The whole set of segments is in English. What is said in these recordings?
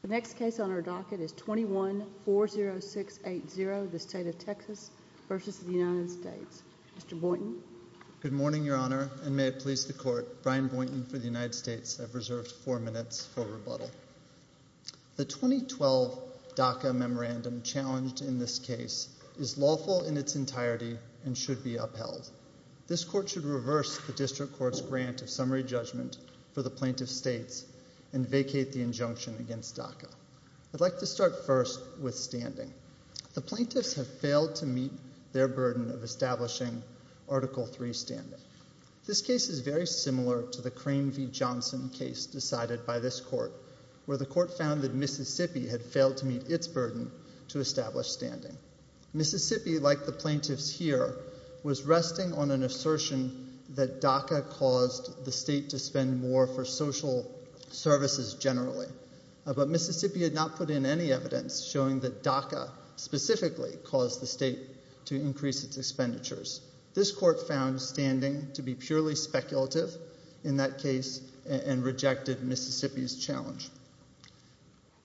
The next case on our docket is 21-40680, the State of Texas versus the United States. Mr. Boynton. Good morning, Your Honor, and may it please the Court, Brian Boynton for the United States have reserved four minutes for rebuttal. The 2012 DACA memorandum challenged in this case is lawful in its entirety and should be upheld. This Court should reverse the District Court's grant of summary judgment for the plaintiff's states and vacate the injunction against DACA. I'd like to start first with standing. The plaintiffs have failed to meet their burden of establishing Article III standing. This case is very similar to the Crane v. Johnson case decided by this Court, where the Court found that Mississippi had failed to meet its burden to establish standing. Mississippi, like the plaintiffs here, was resting on an assertion that DACA caused the state to spend more for social services generally, but Mississippi had not put in any evidence showing that DACA specifically caused the state to increase its expenditures. This Court found standing to be purely speculative in that case and rejected Mississippi's challenge.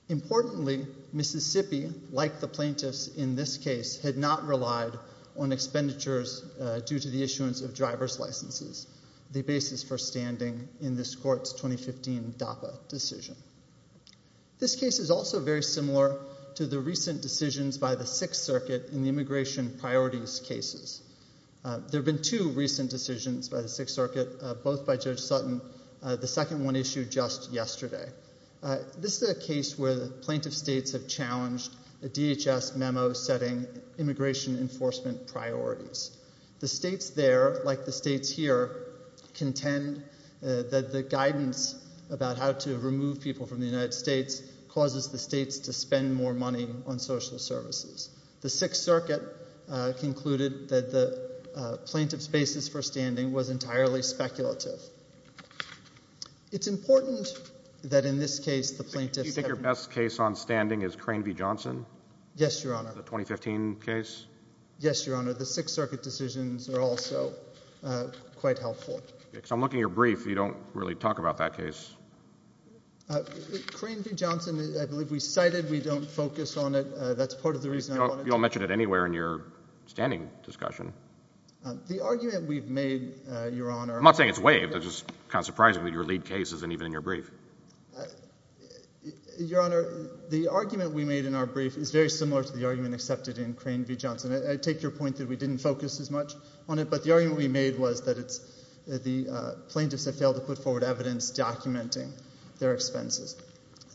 Importantly, Mississippi, like the plaintiffs in this case, had not relied on expenditures due to the issuance of driver's licenses, the basis for standing in this Court's 2015 DACA decision. This case is also very similar to the recent decisions by the Sixth Circuit in the immigration priorities cases. There have been two recent decisions by the Sixth Circuit, both by Judge Sutton. The second one issued just yesterday. This is a case where the plaintiff states have challenged a DHS memo setting immigration enforcement priorities. The states there, like the states here, contend that the guidance about how to remove people from the United States causes the states to spend more money on social services. The Sixth Circuit concluded that the plaintiff's basis for standing was entirely speculative. It's important that in this case the plaintiffs have— Do you think your best case on standing is Crane v. Johnson? Yes, Your Honor. The 2015 case? Yes, Your Honor. The Sixth Circuit decisions are also quite helpful. Because I'm looking at your brief, you don't really talk about that case. Crane v. Johnson, I believe we cited, we don't focus on it. That's part of the reason I wanted to— You don't mention it anywhere in your standing discussion. The argument we've made, Your Honor— I'm not saying it's waived. It's just kind of surprising that your lead case isn't even in your brief. Your Honor, the argument we made in our brief is very similar to the argument accepted in Crane v. Johnson. I take your point that we didn't focus as much on it. But the argument we made was that it's the plaintiffs that failed to put forward evidence documenting their expenses.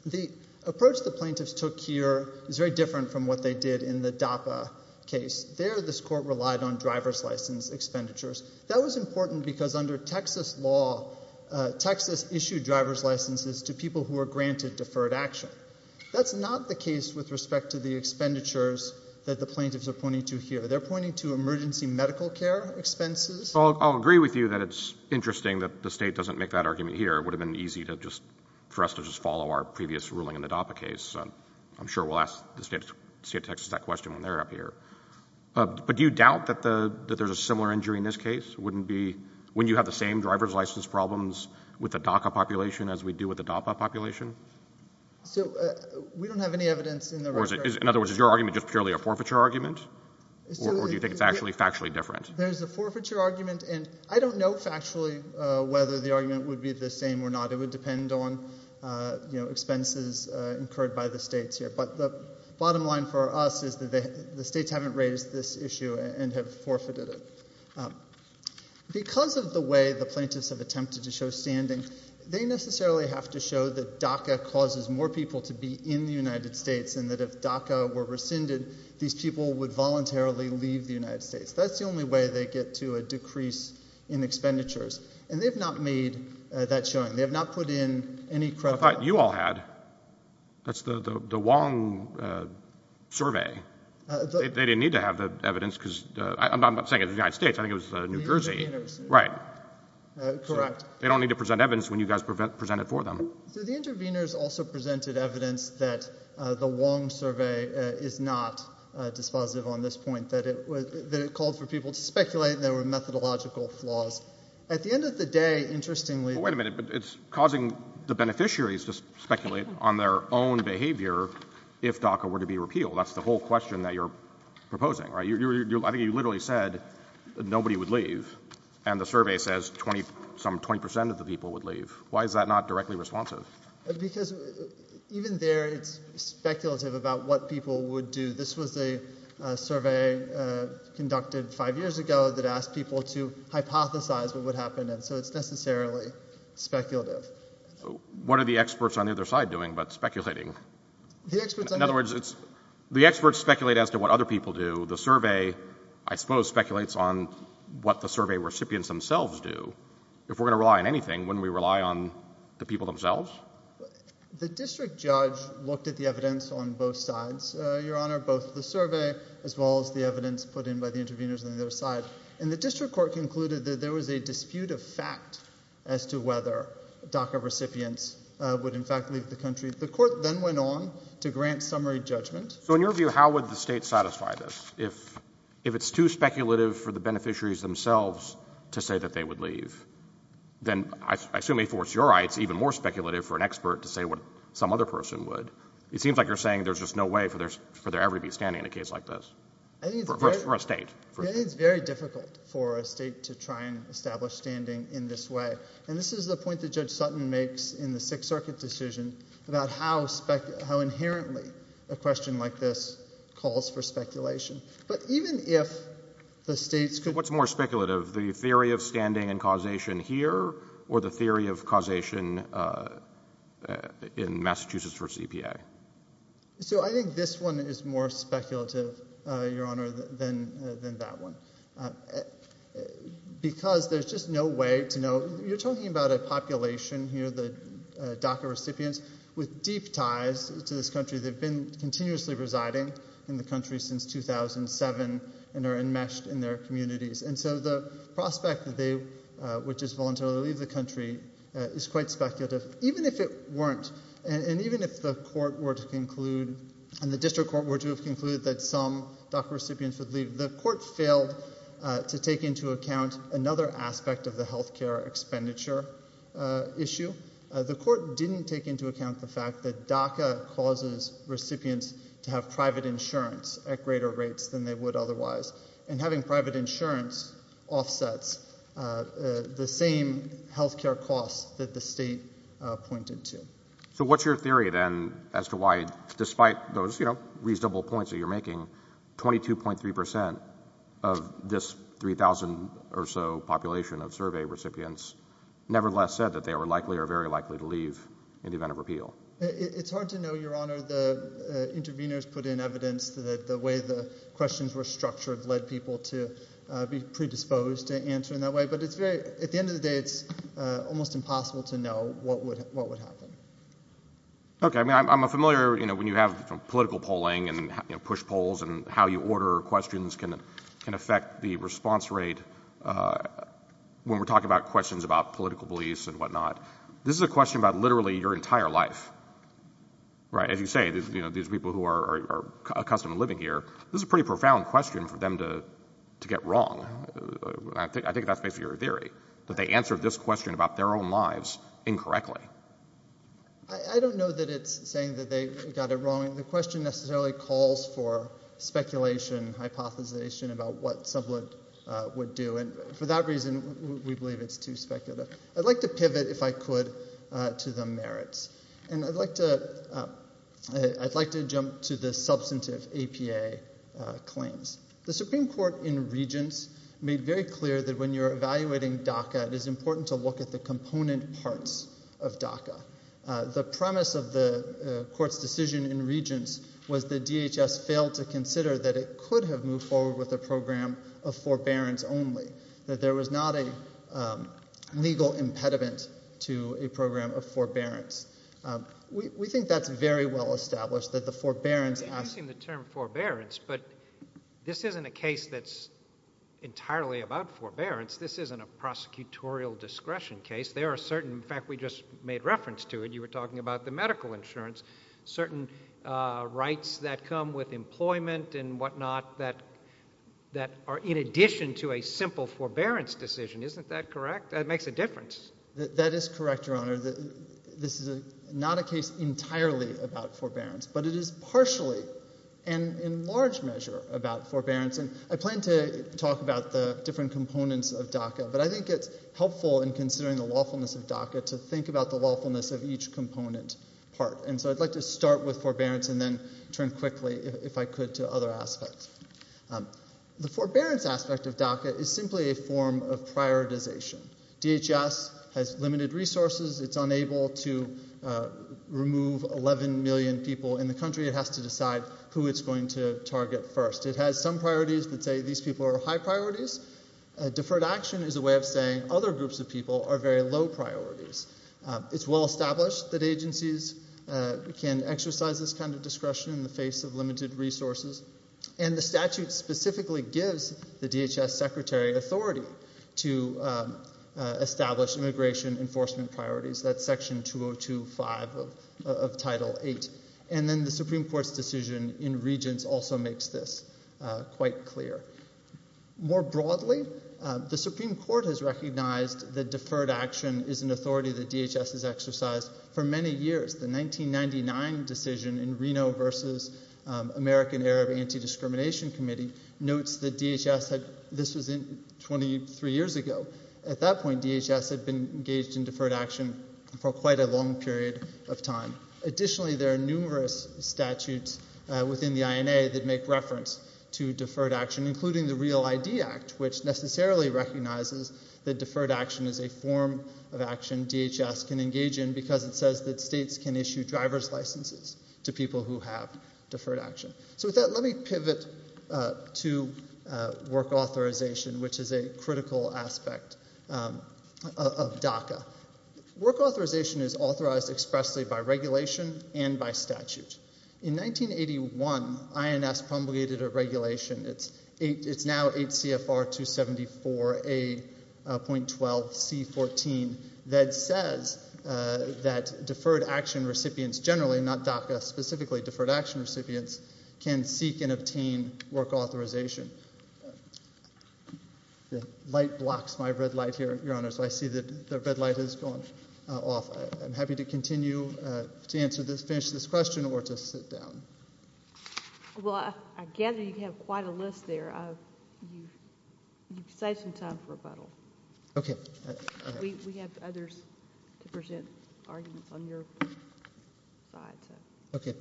The approach the plaintiffs took here is very different from what they did in the DAPA case. There, this Court relied on driver's license expenditures. That was important because under Texas law, Texas issued driver's licenses to people who were granted deferred action. That's not the case with respect to the expenditures that the plaintiffs are pointing to here. They're pointing to emergency medical care expenses. Well, I'll agree with you that it's interesting that the State doesn't make that argument here. It would have been easy for us to just follow our previous ruling in the DAPA case. I'm sure we'll ask the State of Texas that question when they're up here. But do you doubt that there's a similar injury in this case? Wouldn't it be when you have the same driver's license problems with the DACA population as we do with the DAPA population? So we don't have any evidence in the record— In other words, is your argument just purely a forfeiture argument, or do you think it's actually factually different? There's a forfeiture argument, and I don't know factually whether the argument would be the same or not. It would depend on expenses incurred by the States here. But the bottom line for us is that the States haven't raised this issue and have forfeited it. Because of the way the plaintiffs have attempted to show standing, they necessarily have to show that DACA causes more people to be in the United States, and that if DACA were rescinded, these people would voluntarily leave the United States. That's the only way they get to a decrease in expenditures. And they've not made that showing. They have not put in any credible— You all had. That's the Wong survey. They didn't need to have the evidence, because—I'm not saying it was the United States. I think it was New Jersey. Right. Correct. They don't need to present evidence when you guys present it for them. So the interveners also presented evidence that the Wong survey is not dispositive on It's dispositive. It's dispositive. It's dispositive. It's dispositive. It's dispositive. It's dispositive. At the end of the day, interestingly— Well, wait a minute. But it's causing the beneficiaries to speculate on their own behavior if DACA were to be repealed. That's the whole question that you're proposing, right? I think you literally said nobody would leave, and the survey says some 20 percent of the people would leave. Why is that not directly responsive? Because even there, it's speculative about what people would do. This was a survey conducted five years ago that asked people to hypothesize what would happen. So it's necessarily speculative. What are the experts on the other side doing but speculating? The experts— In other words, the experts speculate as to what other people do. The survey, I suppose, speculates on what the survey recipients themselves do. If we're going to rely on anything, wouldn't we rely on the people themselves? The district judge looked at the evidence on both sides, Your Honor, both the survey as well as the evidence put in by the interveners on the other side, and the district court concluded that there was a dispute of fact as to whether DACA recipients would in fact leave the country. The court then went on to grant summary judgment. So in your view, how would the state satisfy this? If it's too speculative for the beneficiaries themselves to say that they would leave, then I assume, before it's your eye, it's even more speculative for an expert to say what some other person would. It seems like you're saying there's just no way for there ever to be standing in a case like this for a state. I think it's very difficult for a state to try and establish standing in this way. And this is the point that Judge Sutton makes in the Sixth Circuit decision about how inherently a question like this calls for speculation. But even if the states could— What's more speculative, the theory of standing and causation here or the theory of causation in Massachusetts v. EPA? So I think this one is more speculative, Your Honor, than that one. Because there's just no way to know—you're talking about a population here, the DACA recipients, with deep ties to this country. They've been continuously residing in the country since 2007 and are enmeshed in their communities. And so the prospect that they would just voluntarily leave the country is quite speculative. Even if it weren't, and even if the court were to conclude and the district court were to have concluded that some DACA recipients would leave, the court failed to take into account another aspect of the health care expenditure issue. The court didn't take into account the fact that DACA causes recipients to have private insurance at greater rates than they would otherwise. And having private insurance offsets the same health care costs that the state pointed to. So what's your theory, then, as to why, despite those reasonable points that you're making, 22.3 percent of this 3,000 or so population of survey recipients nevertheless said that they were likely or very likely to leave in the event of repeal? It's hard to know, Your Honor. The interveners put in evidence that the way the questions were structured led people to be predisposed to answer in that way. But at the end of the day, it's almost impossible to know what would happen. Okay. I mean, I'm familiar, you know, when you have political polling and push polls and how you order questions can affect the response rate when we're talking about questions about political beliefs and whatnot. This is a question about literally your entire life. Right? As you say, you know, these people who are accustomed to living here, this is a pretty profound question for them to get wrong. I think that's basically your theory, that they answered this question about their own lives incorrectly. I don't know that it's saying that they got it wrong. The question necessarily calls for speculation, hypothesization about what someone would do. And for that reason, we believe it's too speculative. I'd like to pivot, if I could, to the merits. And I'd like to jump to the substantive APA claims. The Supreme Court in Regents made very clear that when you're evaluating DACA, it is important to look at the component parts of DACA. The premise of the Court's decision in Regents was that DHS failed to consider that it could have moved forward with a program of forbearance only, that there was not a legal impediment to a program of forbearance. We think that's very well established, that the forbearance— I'm using the term forbearance, but this isn't a case that's entirely about forbearance. This isn't a prosecutorial discretion case. There are certain—in fact, we just made reference to it. You were talking about the medical insurance. Certain rights that come with employment and whatnot that are in addition to a simple forbearance decision. Isn't that correct? That makes a difference. That is correct, Your Honor. This is not a case entirely about forbearance, but it is partially and in large measure about forbearance. And I plan to talk about the different components of DACA, but I think it's helpful in considering the lawfulness of DACA to think about the lawfulness of each component part. And so I'd like to start with forbearance and then turn quickly, if I could, to other aspects. The forbearance aspect of DACA is simply a form of prioritization. DHS has limited resources. It's unable to remove 11 million people in the country. It has to decide who it's going to target first. It has some priorities that say these people are high priorities. Deferred action is a way of saying other groups of people are very low priorities. It's well established that agencies can exercise this kind of discretion in the face of limited resources. And the statute specifically gives the DHS Secretary authority to establish immigration enforcement priorities. That's Section 202.5 of Title VIII. And then the Supreme Court's decision in Regents also makes this quite clear. More broadly, the Supreme Court has recognized that deferred action is an authority that DHS has exercised for many years. The 1999 decision in Reno v. American Arab Anti-Discrimination Committee notes that DHS had, this was 23 years ago, at that point DHS had been engaged in deferred action for quite a long period of time. Additionally, there are numerous statutes within the INA that make reference to deferred action, including the Real ID Act, which necessarily recognizes that deferred action is a form of action DHS can engage in because it says that states can issue driver's licenses to people who have deferred action. So with that, let me pivot to work authorization, which is a critical aspect of DACA. Work authorization is authorized expressly by regulation and by statute. In 1981, INS promulgated a regulation. It's now 8 CFR 274A.12C14 that says that deferred action recipients generally, not DACA specifically, deferred action recipients can seek and obtain work authorization. The light blocks my red light here, Your Honors, so I see that the red light has gone off. I'm happy to continue to answer this, finish this question or to sit down. Well, I gather you have quite a list there. You've saved some time for rebuttal. Okay. We have others to present arguments on your side. Okay.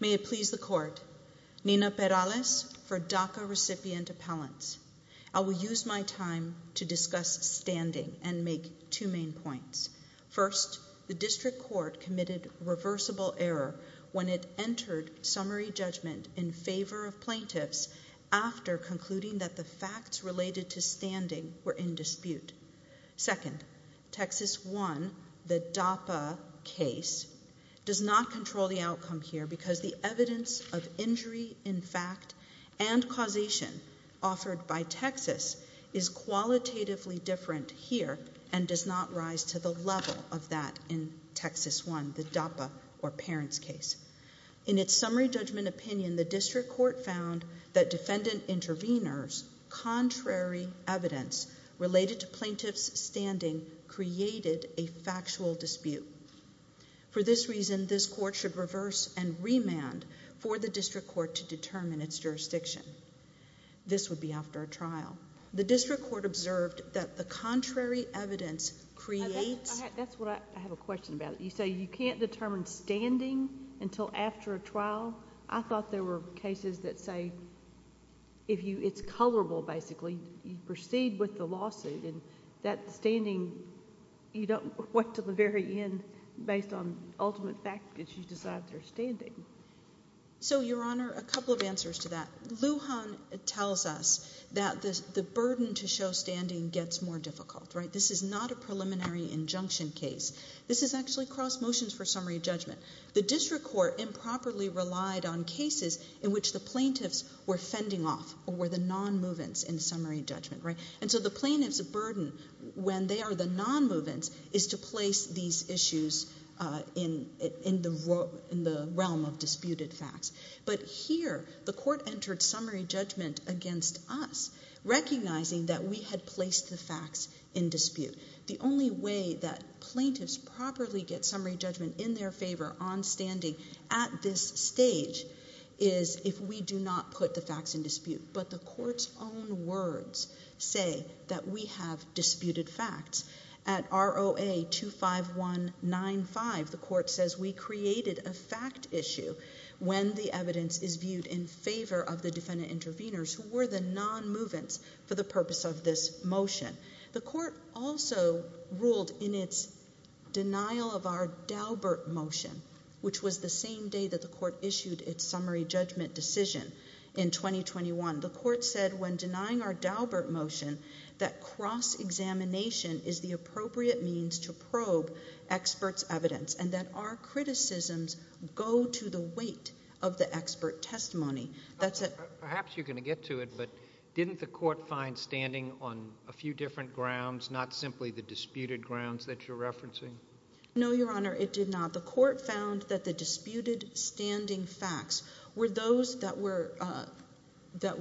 May it please the Court. Nina Perales for DACA recipient appellants. I will use my time to discuss standing and make two main points. First, the district court committed reversible error when it entered summary judgment in favor of plaintiffs after concluding that the facts related to standing were in dispute. Second, Texas 1, the DAPA case, does not control the outcome here because the evidence of injury in fact and causation offered by Texas is qualitatively different here and does not rise to the level of that in Texas 1, the DAPA or parents case. In its summary judgment opinion, the district court found that defendant interveners' contrary evidence related to plaintiff's standing created a factual dispute. For this reason, this court should reverse and remand for the district court to determine its jurisdiction. This would be after a trial. The district court observed that the contrary evidence creates... I have a question about it. You say you can't determine standing until after a trial. I thought there were cases that say it's colorable basically. You proceed with the lawsuit and that standing, you don't know what to the very end based on ultimate fact that you decide their standing. So, Your Honor, a couple of answers to that. Lujan tells us that the burden to show standing gets more difficult, right? This is not a preliminary injunction case. This is actually cross motions for summary judgment. The district court improperly relied on cases in which the plaintiffs were fending off or were the non-movants in summary judgment, right? And so the plaintiff's burden, when they are the non-movants, is to place these issues in the realm of disputed facts. But here, the court entered summary judgment against us, recognizing that we had placed the facts in dispute. The only way that plaintiffs properly get summary judgment in their favor on standing at this stage is if we do not put the facts in dispute. But the court's own words say that we have disputed facts. At ROA 25195, the court says we created a fact issue when the evidence is viewed in favor of the defendant intervenors who were the non-movants for the purpose of this motion. The court also ruled in its denial of our Daubert motion, which was the same day that the court issued its summary judgment decision in 2021, the court said when denying our Daubert motion, that cross-examination is the appropriate means to probe experts' evidence and that our criticisms go to the weight of the expert testimony. Perhaps you're going to get to it, but didn't the court find standing on a few different grounds, not simply the disputed grounds that you're referencing? No, Your Honor, it did not. The court found that the disputed standing facts were those that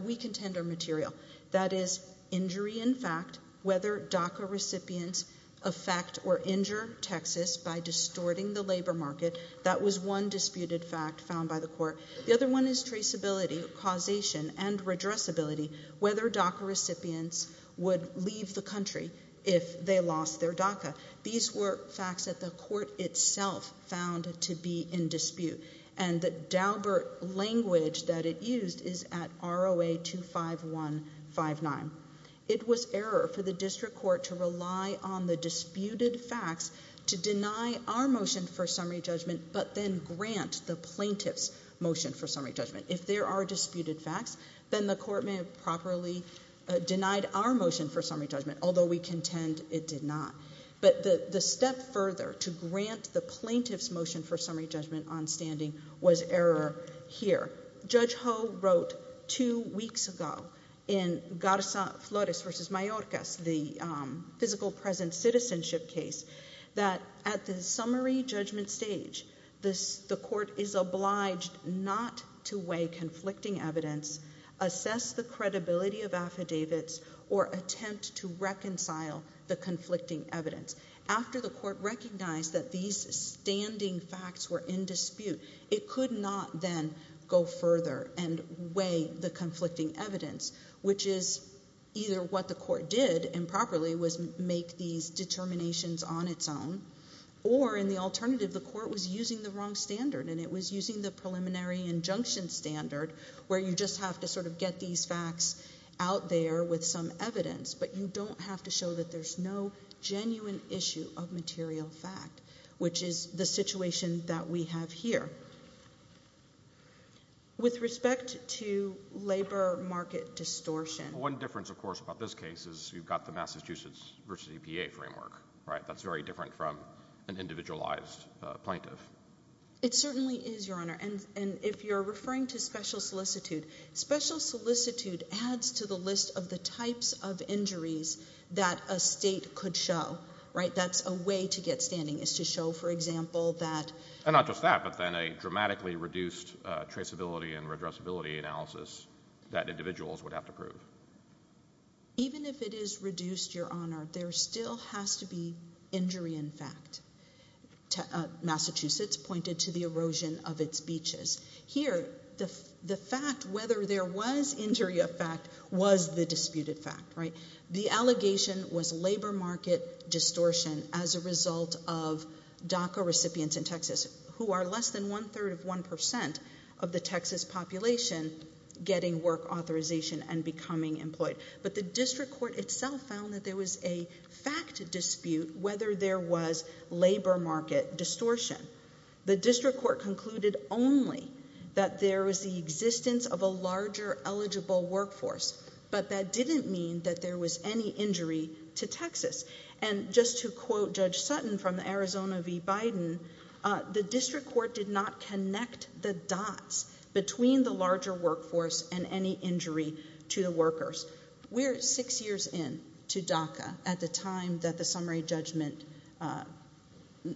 we contend are material. That is, injury in fact, whether DACA recipients affect or injure Texas by distorting the labor market. That was one disputed fact found by the court. The other one is traceability, causation, and redressability, whether DACA recipients would leave the country if they lost their DACA. These were facts that the court itself found to be in dispute, and the Daubert language that it used is at ROA 25159. It was error for the district court to rely on the disputed facts to deny our motion for summary judgment, but then grant the plaintiff's motion for summary judgment. If there are disputed facts, then the court may have properly denied our motion for summary judgment, although we contend it did not. But the step further to grant the plaintiff's motion for summary judgment on standing was error here. Judge Ho wrote two weeks ago in Garza-Flores v. Mayorkas, the physical present citizenship case, that at the summary judgment stage, the court is obliged not to weigh conflicting evidence, assess the credibility of affidavits, or attempt to reconcile the conflicting evidence. After the court recognized that these standing facts were in dispute, it could not then go further and weigh the conflicting evidence, which is either what the court did improperly was make these determinations on its own, or in the alternative, the court was using the wrong standard, and it was using the preliminary injunction standard where you just have to sort of get these facts out there with some evidence, but you don't have to show that there's no genuine issue of material fact, which is the situation that we have here. With respect to labor market distortion. One difference, of course, about this case is you've got the Massachusetts v. EPA framework, right? That's very different from an individualized plaintiff. It certainly is, Your Honor, and if you're referring to special solicitude, special solicitude adds to the list of the types of injuries that a state could show, right? That's a way to get standing is to show, for example, that. And not just that, but then a dramatically reduced traceability and redressability analysis that individuals would have to prove. Even if it is reduced, Your Honor, there still has to be injury in fact. Massachusetts pointed to the erosion of its beaches. Here, the fact whether there was injury of fact was the disputed fact, right? The allegation was labor market distortion as a result of DACA recipients in Texas who are less than one-third of 1% of the Texas population getting work authorization and becoming employed. But the district court itself found that there was a fact dispute whether there was labor market distortion. The district court concluded only that there was the existence of a larger eligible workforce, but that didn't mean that there was any injury to Texas. And just to quote Judge Sutton from Arizona v. Biden, the district court did not connect the dots between the larger workforce and any injury to the workers. We're six years in to DACA at the time that the summary judgment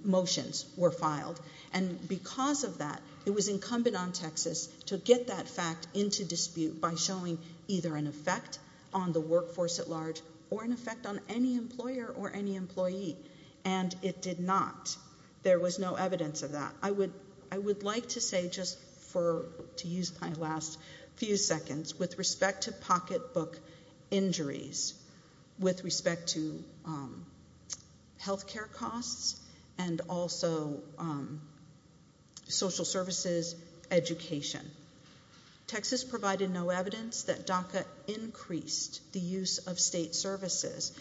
motions were filed, and because of that, it was incumbent on Texas to get that fact into dispute by showing either an effect on the workforce at large or an effect on any employer or any employee. And it did not. There was no evidence of that. I would like to say just to use my last few seconds, with respect to pocketbook injuries, with respect to health care costs and also social services education, Texas provided no evidence that DACA increased the use of state services.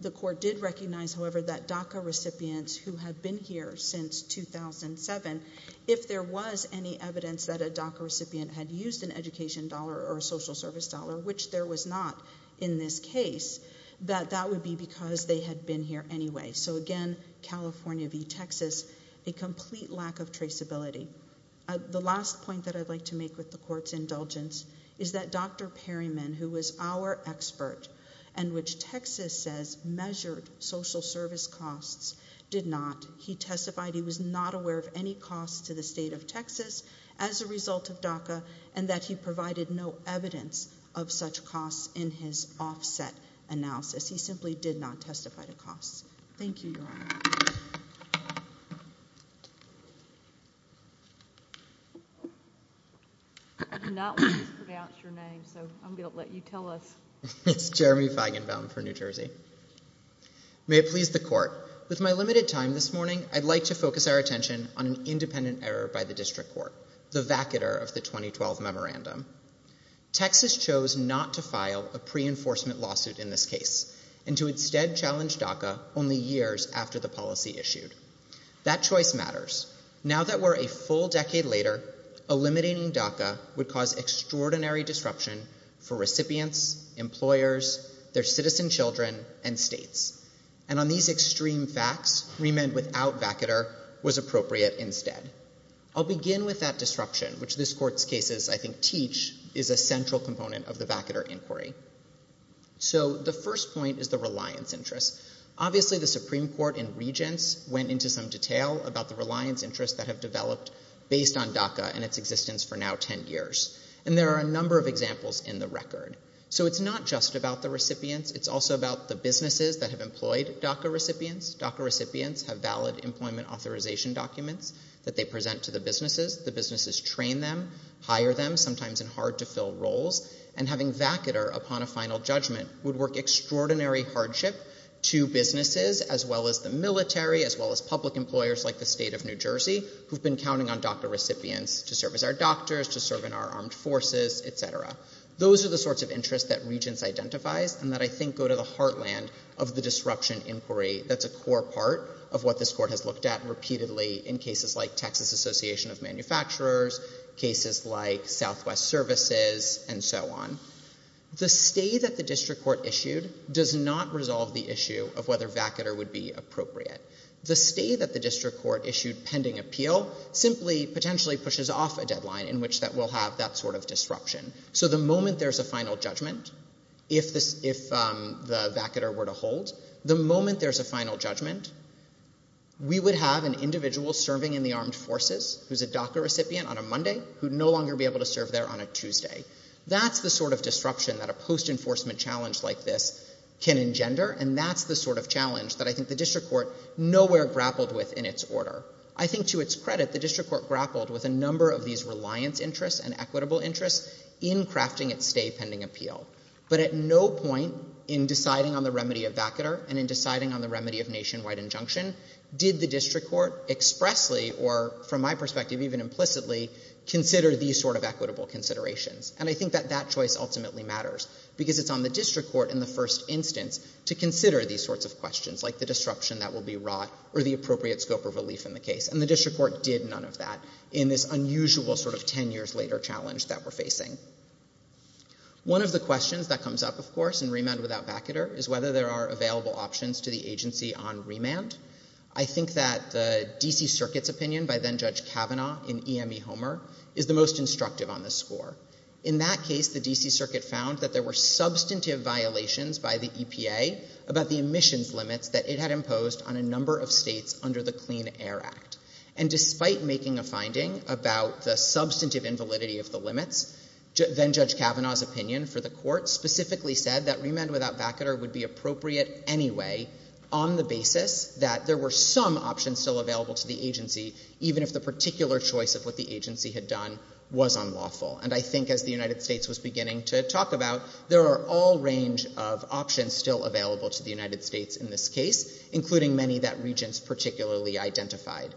The court did recognize, however, that DACA recipients who had been here since 2007, if there was any evidence that a DACA recipient had used an education dollar or a social service dollar, which there was not in this case, that that would be because they had been here anyway. So again, California v. Texas, a complete lack of traceability. The last point that I'd like to make with the court's indulgence is that Dr. Perryman, who was our expert and which Texas says measured social service costs, did not. He testified he was not aware of any costs to the state of Texas as a result of DACA and that he provided no evidence of such costs in his offset analysis. He simply did not testify to costs. Thank you, Your Honor. I do not want to pronounce your name, so I'm going to let you tell us. It's Jeremy Feigenbaum for New Jersey. May it please the court, with my limited time this morning, I'd like to focus our attention on an independent error by the district court, the vacater of the 2012 memorandum. Texas chose not to file a pre-enforcement lawsuit in this case and to instead challenge DACA only years after the policy issued. That choice matters. Now that we're a full decade later, eliminating DACA would cause extraordinary disruption for recipients, employers, their citizen children, and states. And on these extreme facts, remand without vacater was appropriate instead. I'll begin with that disruption, which this court's cases, I think, teach, is a central component of the vacater inquiry. So the first point is the reliance interest. Obviously the Supreme Court and regents went into some detail about the reliance interest that have developed based on DACA and its existence for now 10 years. And there are a number of examples in the record. So it's not just about the recipients. It's also about the businesses that have employed DACA recipients. DACA recipients have valid employment authorization documents that they present to the businesses. The businesses train them, hire them, sometimes in hard-to-fill roles. And having vacater upon a final judgment would work extraordinary hardship to businesses, as well as the military, as well as public employers like the state of New Jersey, who've been counting on DACA recipients to serve as our doctors, to serve in our armed forces, et cetera. Those are the sorts of interests that regents identify and that I think go to the heartland of the disruption inquiry that's a core part of what this court has looked at repeatedly in cases like Texas Association of Manufacturers, cases like Southwest Services, and so on. The stay that the district court issued does not resolve the issue of whether vacater would be appropriate. The stay that the district court issued pending appeal simply potentially pushes off a deadline in which that we'll have that sort of disruption. So the moment there's a final judgment, if the vacater were to hold, the moment there's a final judgment, we would have an individual serving in the armed forces who's a DACA recipient on a Monday who'd no longer be able to serve there on a Tuesday. That's the sort of disruption that a post-enforcement challenge like this can engender, and that's the sort of challenge that I think the district court nowhere grappled with in its order. I think to its credit, the district court grappled with a number of these reliance interests and equitable interests in crafting its stay pending appeal. But at no point in deciding on the remedy of vacater and in deciding on the remedy of nationwide injunction did the district court expressly or, from my perspective, even implicitly, consider these sort of equitable considerations. And I think that that choice ultimately matters because it's on the district court in the first instance to consider these sorts of questions like the disruption that will be wrought or the appropriate scope of relief in the case. And the district court did none of that in this unusual sort of ten years later challenge that we're facing. One of the questions that comes up, of course, in remand without vacater is whether there are available options to the agency on remand. I think that the D.C. Circuit's opinion by then Judge Kavanaugh in E.M.E. Homer is the most instructive on this score. In that case, the D.C. Circuit found that there were substantive violations by the EPA about the emissions limits that it had imposed on a number of states under the Clean Air Act. And despite making a finding about the substantive invalidity of the limits, then Judge Kavanaugh's opinion for the court specifically said that remand without vacater would be appropriate anyway on the basis that there were some options still available to the agency even if the particular choice of what the agency had done was unlawful. And I think as the United States was beginning to talk about, there are all range of options still available to the United States in this case, including many that regents particularly identified,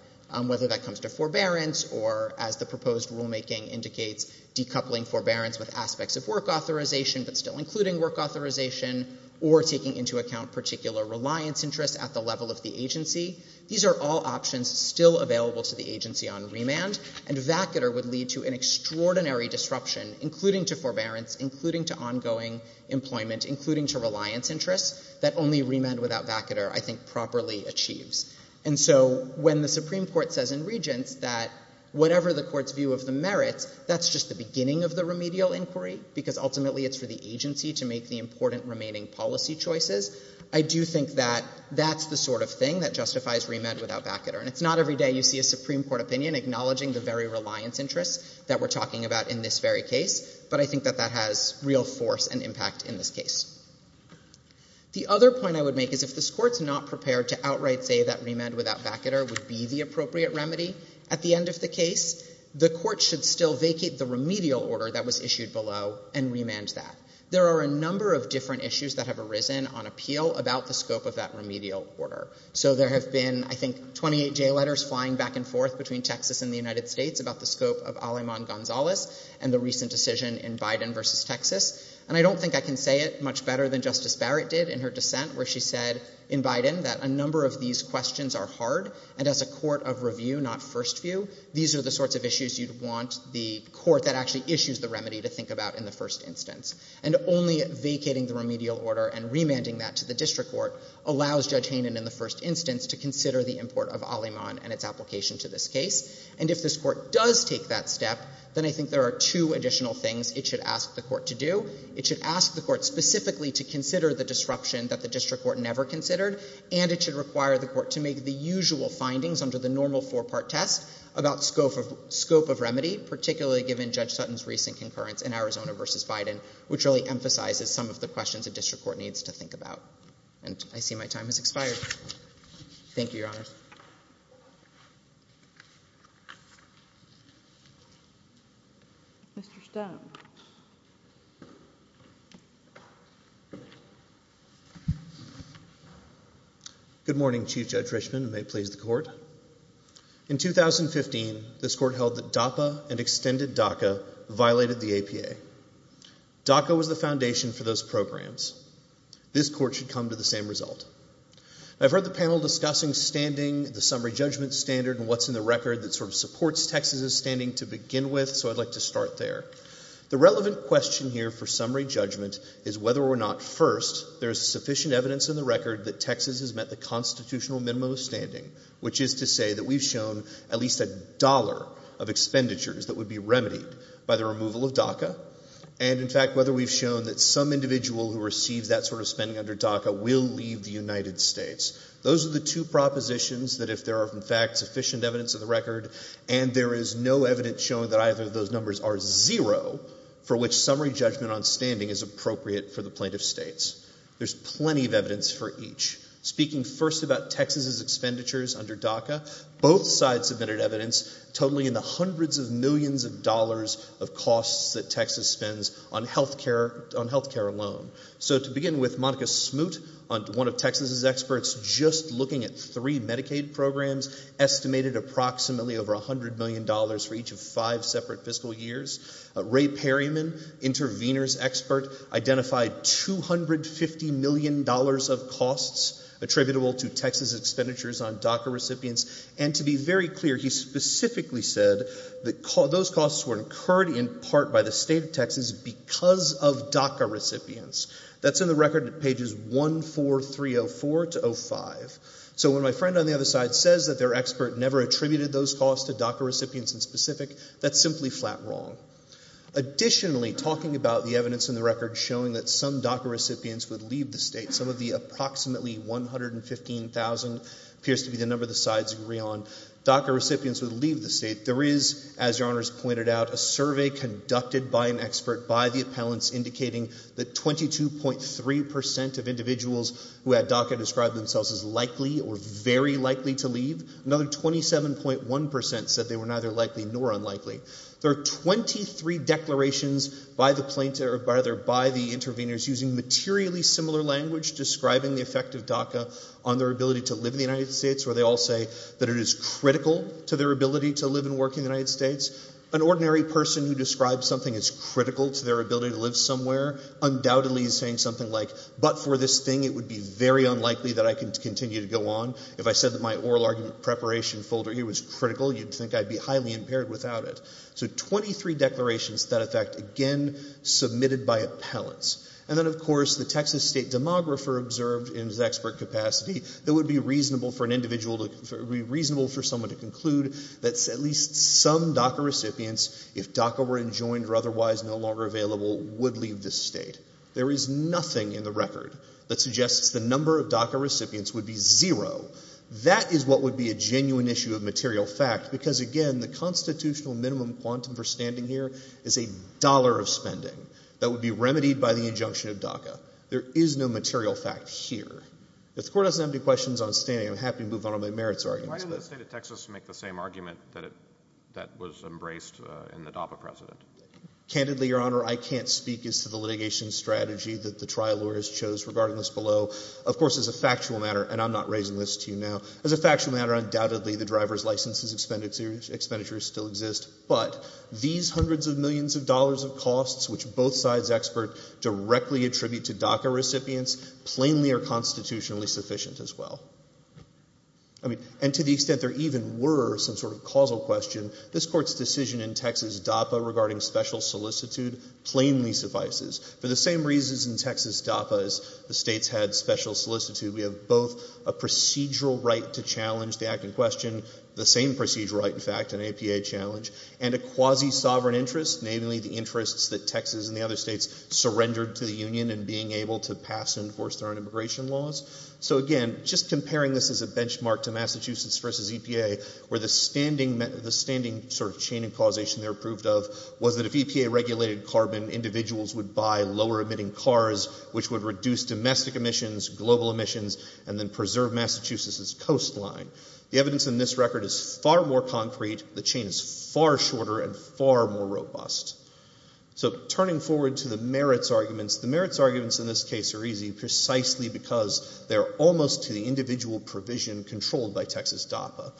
whether that comes to forbearance or, as the proposed rulemaking indicates, decoupling forbearance with aspects of work authorization but still including work authorization or taking into account particular reliance interests at the level of the agency. These are all options still available to the agency on remand, and vacater would lead to an extraordinary disruption, including to forbearance, including to ongoing employment, including to reliance interests, that only remand without vacater I think properly achieves. And so when the Supreme Court says in regents that whatever the court's view of the merits, that's just the beginning of the remedial inquiry because ultimately it's for the agency to make the important remaining policy choices, I do think that that's the sort of thing that justifies remand without vacater. And it's not every day you see a Supreme Court opinion acknowledging the very reliance interests that we're talking about in this very case, but I think that that has real force and impact in this case. The other point I would make is if this Court's not prepared to outright say that remand without vacater would be the appropriate remedy at the end of the case, the Court should still vacate the remedial order that was issued below and remand that. There are a number of different issues that have arisen on appeal about the scope of that remedial order. So there have been, I think, 28 jail letters flying back and forth between Texas and the United States about the scope of Aleman-Gonzalez and the recent decision in Biden versus Texas. And I don't think I can say it much better than Justice Barrett did in her dissent where she said in Biden that a number of these questions are hard and as a court of review, not first view, these are the sorts of issues you'd want the court that actually issues the remedy to think about in the first instance. And only vacating the remedial order and remanding that to the district court allows Judge Haynen in the first instance to consider the import of Aleman and its application to this case. And if this court does take that step, then I think there are two additional things it should ask the court to do. It should ask the court specifically to consider the disruption that the district court never considered and it should require the court to make the usual findings under the normal four-part test about scope of remedy, particularly given Judge Sutton's recent concurrence in Arizona versus Biden, which really emphasizes some of the questions the district court needs to think about. And I see my time has expired. Thank you, Your Honors. Mr. Stone. Good morning, Chief Judge Richman, and may it please the court. In 2015, this court held that DAPA and extended DACA violated the APA. DACA was the foundation for those programs. This court should come to the same result. I've heard the panel discussing standing, the summary judgment standard, and what's in the record that sort of supports Texas's standing to begin with, so I'd like to start there. The relevant question here for summary judgment is whether or not, first, there is sufficient evidence in the record that Texas has met the constitutional minimum of standing, which is to say that we've shown at least a dollar of expenditures that would be remedied by the removal of DACA, and, in fact, whether we've shown that some individual who receives that sort of spending under DACA will leave the United States. Those are the two propositions that if there are, in fact, sufficient evidence in the record, and there is no evidence showing that either of those numbers are zero, for which summary judgment on standing is appropriate for the plaintiff states. There's plenty of evidence for each. Speaking first about Texas's expenditures under DACA, both sides submitted evidence totaling in the hundreds of millions of dollars of costs that Texas spends on health care alone. So to begin with, Monica Smoot, one of Texas's experts, just looking at three Medicaid programs, estimated approximately over $100 million for each of five separate fiscal years. Ray Perryman, intervener's expert, identified $250 million of costs attributable to Texas expenditures on DACA recipients, and to be very clear, he specifically said that those costs were incurred in part by the state of Texas because of DACA recipients. That's in the record at pages 14304 to 05. So when my friend on the other side says that their expert never attributed those costs to DACA recipients in specific, that's simply flat wrong. Additionally, talking about the evidence in the record showing that some DACA recipients would leave the state, some of the approximately 115,000 appears to be the number the sides agree on. DACA recipients would leave the state. There is, as Your Honors pointed out, a survey conducted by an expert by the appellants indicating that 22.3% of individuals who had DACA describe themselves as likely or very likely to leave. Another 27.1% said they were neither likely nor unlikely. There are 23 declarations by the interveners using materially similar language describing the effect of DACA on their ability to live in the United States, where they all say that it is critical to their ability to live and work in the United States. An ordinary person who describes something as critical to their ability to live somewhere undoubtedly is saying something like, but for this thing it would be very unlikely that I could continue to go on. If I said that my oral argument preparation folder here was critical, you'd think I'd be highly impaired without it. So 23 declarations to that effect, again submitted by appellants. And then, of course, the Texas State Demographer observed in his expert capacity that it would be reasonable for someone to conclude that at least some DACA recipients, if DACA were enjoined or otherwise no longer available, would leave this state. There is nothing in the record that suggests the number of DACA recipients would be zero. That is what would be a genuine issue of material fact because, again, the constitutional minimum quantum for standing here is a dollar of spending that would be remedied by the injunction of DACA. There is no material fact here. If the Court doesn't have any questions on standing, I'm happy to move on to my merits arguments. Why didn't the state of Texas make the same argument that was embraced in the DAPA precedent? Candidly, Your Honor, I can't speak as to the litigation strategy that the trial lawyers chose regarding this below. Of course, as a factual matter, and I'm not raising this to you now, as a factual matter, undoubtedly, the driver's license expenditures still exist, but these hundreds of millions of dollars of costs which both sides expert directly attribute to DACA recipients plainly are constitutionally sufficient as well. I mean, and to the extent there even were some sort of causal question, this Court's decision in Texas DAPA regarding special solicitude plainly suffices. For the same reasons in Texas DAPA as the states had special solicitude, we have both a procedural right to challenge the act in question, the same procedural right, in fact, an APA challenge, and a quasi-sovereign interest, namely the interests that Texas and the other states surrendered to the Union in being able to pass and enforce their own immigration laws. So, again, just comparing this as a benchmark to Massachusetts v. EPA, where the standing sort of chain of causation they were approved of was that if EPA regulated carbon, individuals would buy lower-emitting cars, which would reduce domestic emissions, global emissions, and then preserve Massachusetts' coastline. The evidence in this record is far more concrete, the chain is far shorter, and far more robust. So turning forward to the merits arguments, the merits arguments in this case are easy precisely because they're almost to the individual provision controlled by Texas DAPA.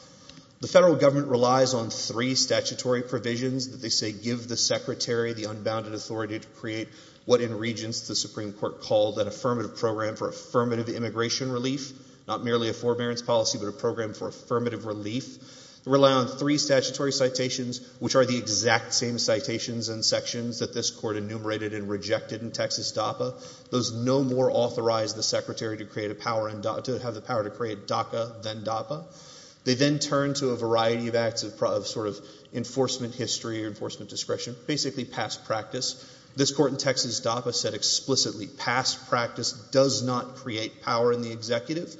The federal government relies on three statutory provisions that they say give the secretary the unbounded authority to create what in Regents the Supreme Court called an affirmative program for affirmative immigration relief, not merely a forbearance policy, but a program for affirmative relief. They rely on three statutory citations, which are the exact same citations and sections that this Court enumerated and rejected in Texas DAPA. Those no more authorize the secretary to create a power, to have the power to create DACA than DAPA. They then turn to a variety of acts of sort of enforcement history or enforcement discretion, basically past practice. This Court in Texas DAPA said explicitly past practice does not create power in the executive.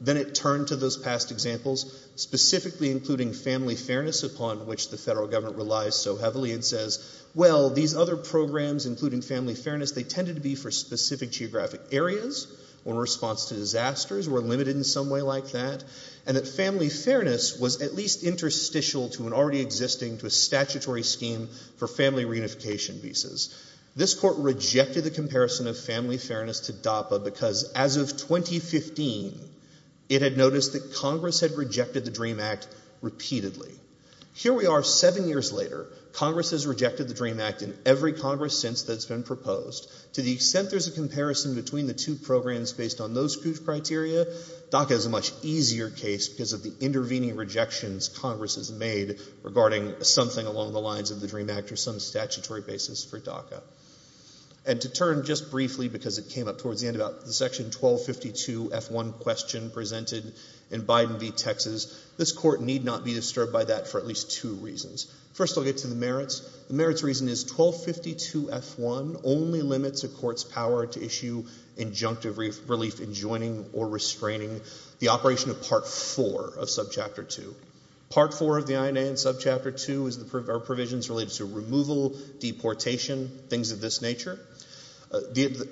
Then it turned to those past examples, specifically including family fairness upon which the federal government relies so heavily, and says, well, these other programs, including family fairness, they tended to be for specific geographic areas when response to disasters were limited in some way like that, and that family fairness was at least interstitial to an already existing statutory scheme for family reunification visas. This Court rejected the comparison of family fairness to DAPA because as of 2015, it had noticed that Congress had rejected the DREAM Act repeatedly. Here we are seven years later. Congress has rejected the DREAM Act in every Congress since that's been proposed. To the extent there's a comparison between the two programs based on those two criteria, DACA is a much easier case because of the intervening rejections Congress has made regarding something along the lines of the DREAM Act or some statutory basis for DACA. And to turn just briefly, because it came up towards the end, about the section 1252F1 question presented in Biden v. Texas, this Court need not be disturbed by that for at least two reasons. First, I'll get to the merits. The merits reason is 1252F1 only limits a court's power to issue injunctive relief enjoining or restraining the operation of Part IV of Subchapter 2. Part IV of the INA and Subchapter 2 are provisions related to removal, deportation, things of this nature.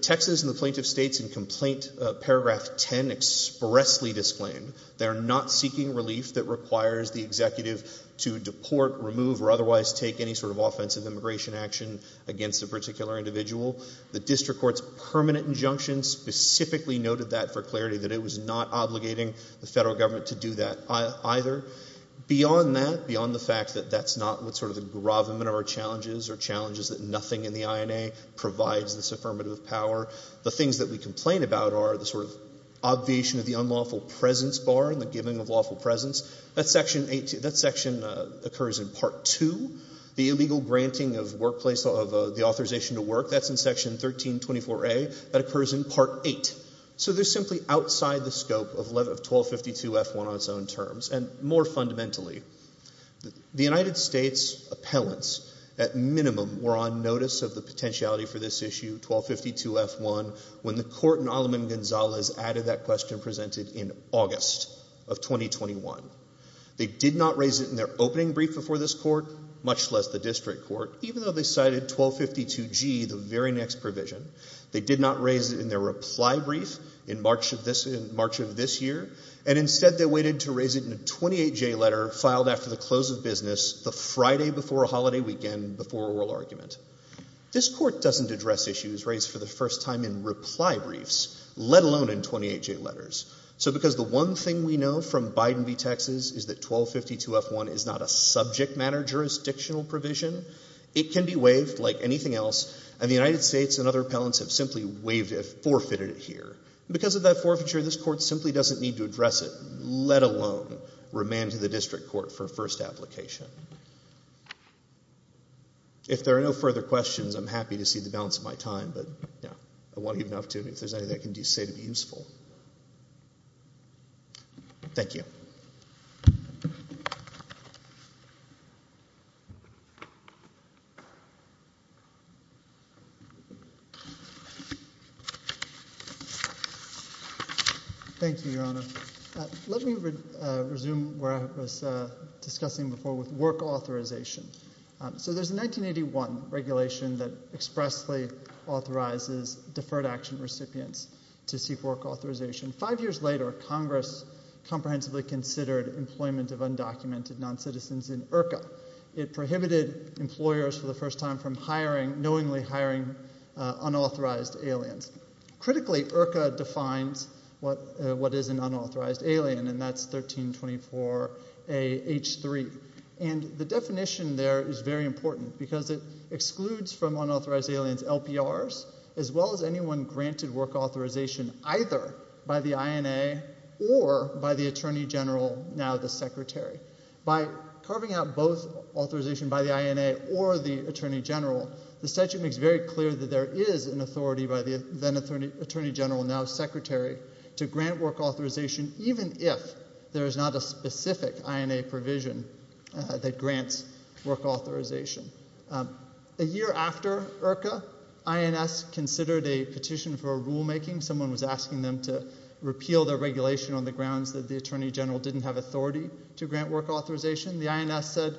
Texas and the plaintiff states in Complaint Paragraph 10 expressly disclaimed they are not seeking relief that requires the executive to deport, remove, or otherwise take any sort of offensive immigration action against a particular individual. The district court's permanent injunction specifically noted that for clarity, that it was not obligating the federal government to do that either. Beyond that, beyond the fact that that's not what sort of the gravamen of our challenges or challenges that nothing in the INA provides this affirmative power, the things that we complain about are the sort of obviation of the unlawful presence bar and the giving of lawful presence. That section occurs in Part II. The illegal granting of the authorization to work, that's in Section 1324A. That occurs in Part VIII. So they're simply outside the scope of 1252F1 on its own terms, and more fundamentally. The United States appellants, at minimum, were on notice of the potentiality for this issue, 1252F1, when the court in Alam and Gonzalez added that question presented in August of 2021. They did not raise it in their opening brief before this court, much less the district court, even though they cited 1252G, the very next provision. They did not raise it in their reply brief in March of this year, and instead they waited to raise it in a 28-J letter filed after the close of business the Friday before a holiday weekend before a oral argument. This court doesn't address issues raised for the first time in reply briefs, let alone in 28-J letters. So because the one thing we know from Biden v. Texas is that 1252F1 is not a subject matter jurisdictional provision, it can be waived like anything else, and the United States and other appellants have simply forfeited it here. Because of that forfeiture, this court simply doesn't need to address it, let alone remand to the district court for first application. If there are no further questions, I'm happy to see the balance of my time, but I won't give it up to you. If there's anything I can say to be useful. Thank you. Thank you, Your Honor. Let me resume where I was discussing before with work authorization. So there's a 1981 regulation that expressly authorizes deferred action recipients to seek work authorization. Five years later, Congress comprehensively considered employment of undocumented non-citizens in IRCA. It prohibited employers for the first time from knowingly hiring unauthorized aliens. Critically, IRCA defines what is an unauthorized alien, and that's 1324H3. And the definition there is very important because it excludes from unauthorized aliens LPRs as well as anyone granted work authorization either by the INA or by the Attorney General, now the Secretary. By carving out both authorization by the INA or the Attorney General, the statute makes very clear that there is an authority by the then Attorney General, now Secretary, to grant work authorization even if there is not a specific INA provision that grants work authorization. A year after IRCA, INS considered a petition for rulemaking. Someone was asking them to repeal their regulation on the grounds that the Attorney General didn't have authority to grant work authorization. The INS said,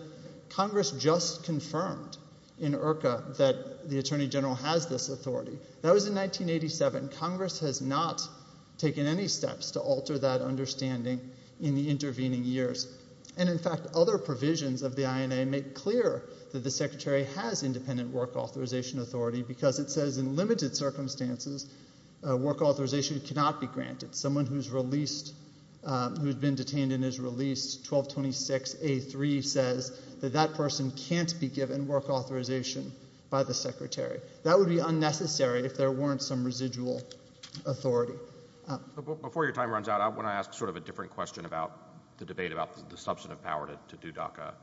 Congress just confirmed in IRCA that the Attorney General has this authority. That was in 1987. And Congress has not taken any steps to alter that understanding in the intervening years. And in fact, other provisions of the INA make clear that the Secretary has independent work authorization authority because it says in limited circumstances work authorization cannot be granted. Someone who's been detained and is released, 1226A3, says that that person can't be given work authorization by the Secretary. That would be unnecessary if there weren't some residual authority. Before your time runs out, I want to ask sort of a different question about the debate about the substantive power to do DACA.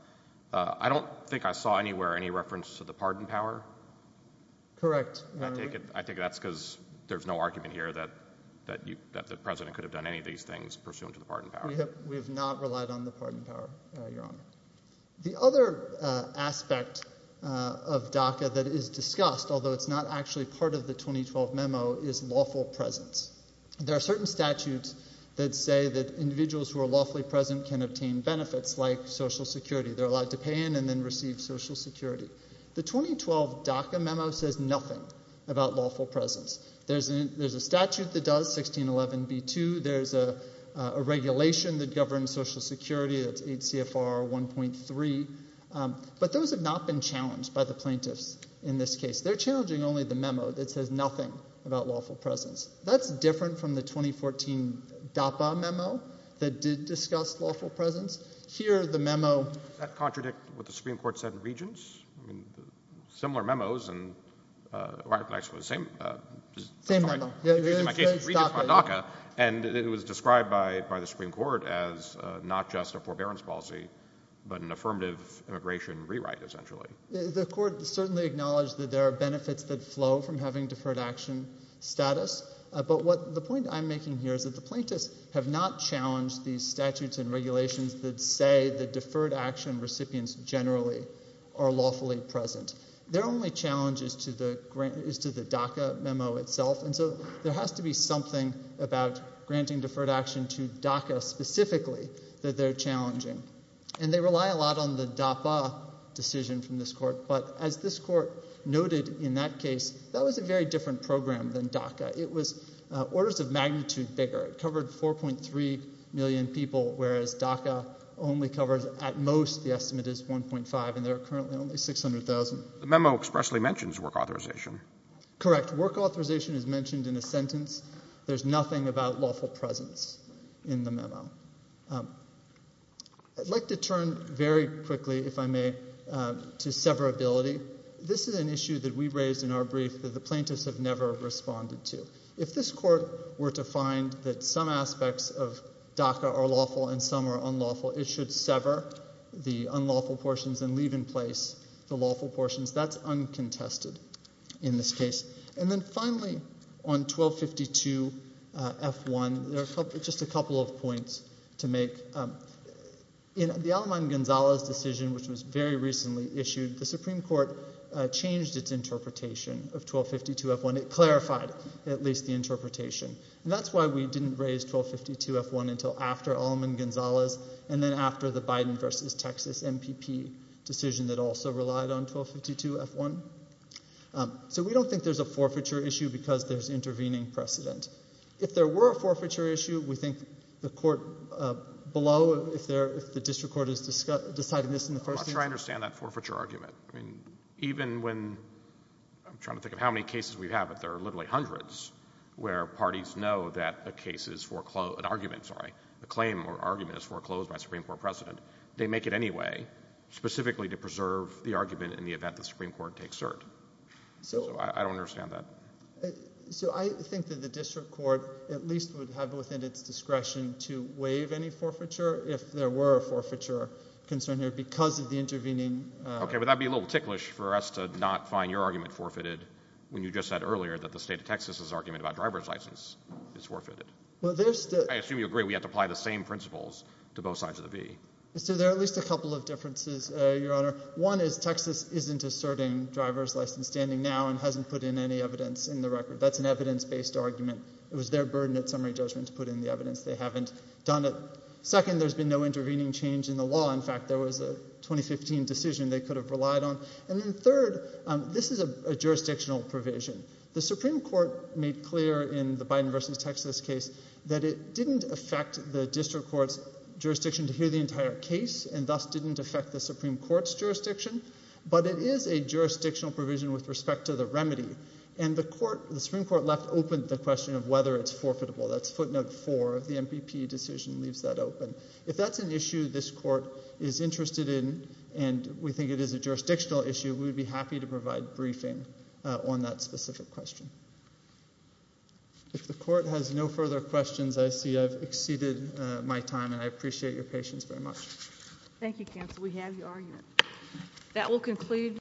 I don't think I saw anywhere any reference to the pardon power. Correct. I think that's because there's no argument here that the President could have done any of these things pursuant to the pardon power. We have not relied on the pardon power, Your Honor. The other aspect of DACA that is discussed although it's not actually part of the 2012 memo is lawful presence. There are certain statutes that say that individuals who are lawfully present can obtain benefits like Social Security. They're allowed to pay in and then receive Social Security. The 2012 DACA memo says nothing about lawful presence. There's a statute that does, 1611B2. There's a regulation that governs Social Security. It's 8 CFR 1.3. But those have not been challenged by the plaintiffs in this case. They're challenging only the memo that says nothing about lawful presence. That's different from the 2014 DAPA memo that did discuss lawful presence. Here, the memo... Does that contradict what the Supreme Court said in Regents? Similar memos and... Actually, the same... Same memo. In my case, it's Regents on DACA, and it was described by the Supreme Court as not just a forbearance policy but an affirmative immigration rewrite, essentially. The court certainly acknowledged that there are benefits that flow from having deferred action status. But the point I'm making here is that the plaintiffs have not challenged these statutes and regulations that say that deferred action recipients generally are lawfully present. Their only challenge is to the DACA memo itself, and so there has to be something about granting deferred action to DACA specifically that they're challenging. And they rely a lot on the DAPA decision from this court, but as this court noted in that case, that was a very different program than DACA. It was orders of magnitude bigger. It covered 4.3 million people, whereas DACA only covers... At most, the estimate is 1.5, and there are currently only 600,000. The memo expressly mentions work authorization. Correct. Work authorization is mentioned in a sentence. There's nothing about lawful presence in the memo. I'd like to turn very quickly, if I may, to severability. This is an issue that we raised in our brief that the plaintiffs have never responded to. If this court were to find that some aspects of DACA are lawful and some are unlawful, it should sever the unlawful portions and leave in place the lawful portions. That's uncontested in this case. And then finally, on 1252F1, there are just a couple of points to make. In the Aleman-Gonzalez decision, which was very recently issued, the Supreme Court changed its interpretation of 1252F1. It clarified at least the interpretation. And that's why we didn't raise 1252F1 until after Aleman-Gonzalez and then after the Biden v. Texas MPP decision that also relied on 1252F1. So we don't think there's a forfeiture issue because there's intervening precedent. If there were a forfeiture issue, we think the court below, if the district court has decided this in the first instance... I'm not sure I understand that forfeiture argument. I mean, even when... I'm trying to think of how many cases we have, but there are literally hundreds where parties know that a case is foreclosed... an argument, sorry, a claim or argument is foreclosed by a Supreme Court president. They make it anyway, specifically to preserve the argument in the event the Supreme Court takes cert. So I don't understand that. So I think that the district court at least would have within its discretion to waive any forfeiture if there were a forfeiture concern here because of the intervening... Okay, but that would be a little ticklish for us to not find your argument forfeited when you just said earlier that the state of Texas' argument about driver's license is forfeited. Well, there's the... I assume you agree we have to apply the same principles to both sides of the V. So there are at least a couple of differences, Your Honor. One is Texas isn't asserting driver's license standing now and hasn't put in any evidence in the record. That's an evidence-based argument. It was their burden at summary judgment to put in the evidence. They haven't done it. Second, there's been no intervening change in the law. In fact, there was a 2015 decision they could have relied on. And then third, this is a jurisdictional provision. The Supreme Court made clear in the Biden v. Texas case that it didn't affect the district court's jurisdiction to hear the entire case and thus didn't affect the Supreme Court's jurisdiction, but it is a jurisdictional provision with respect to the remedy. And the Supreme Court left open the question of whether it's forfeitable. That's footnote four of the MPP decision, leaves that open. If that's an issue this court is interested in and we think it is a jurisdictional issue, we would be happy to provide briefing on that specific question. If the court has no further questions, I see I've exceeded my time, and I appreciate your patience very much. Thank you, counsel. We have your argument. That will conclude.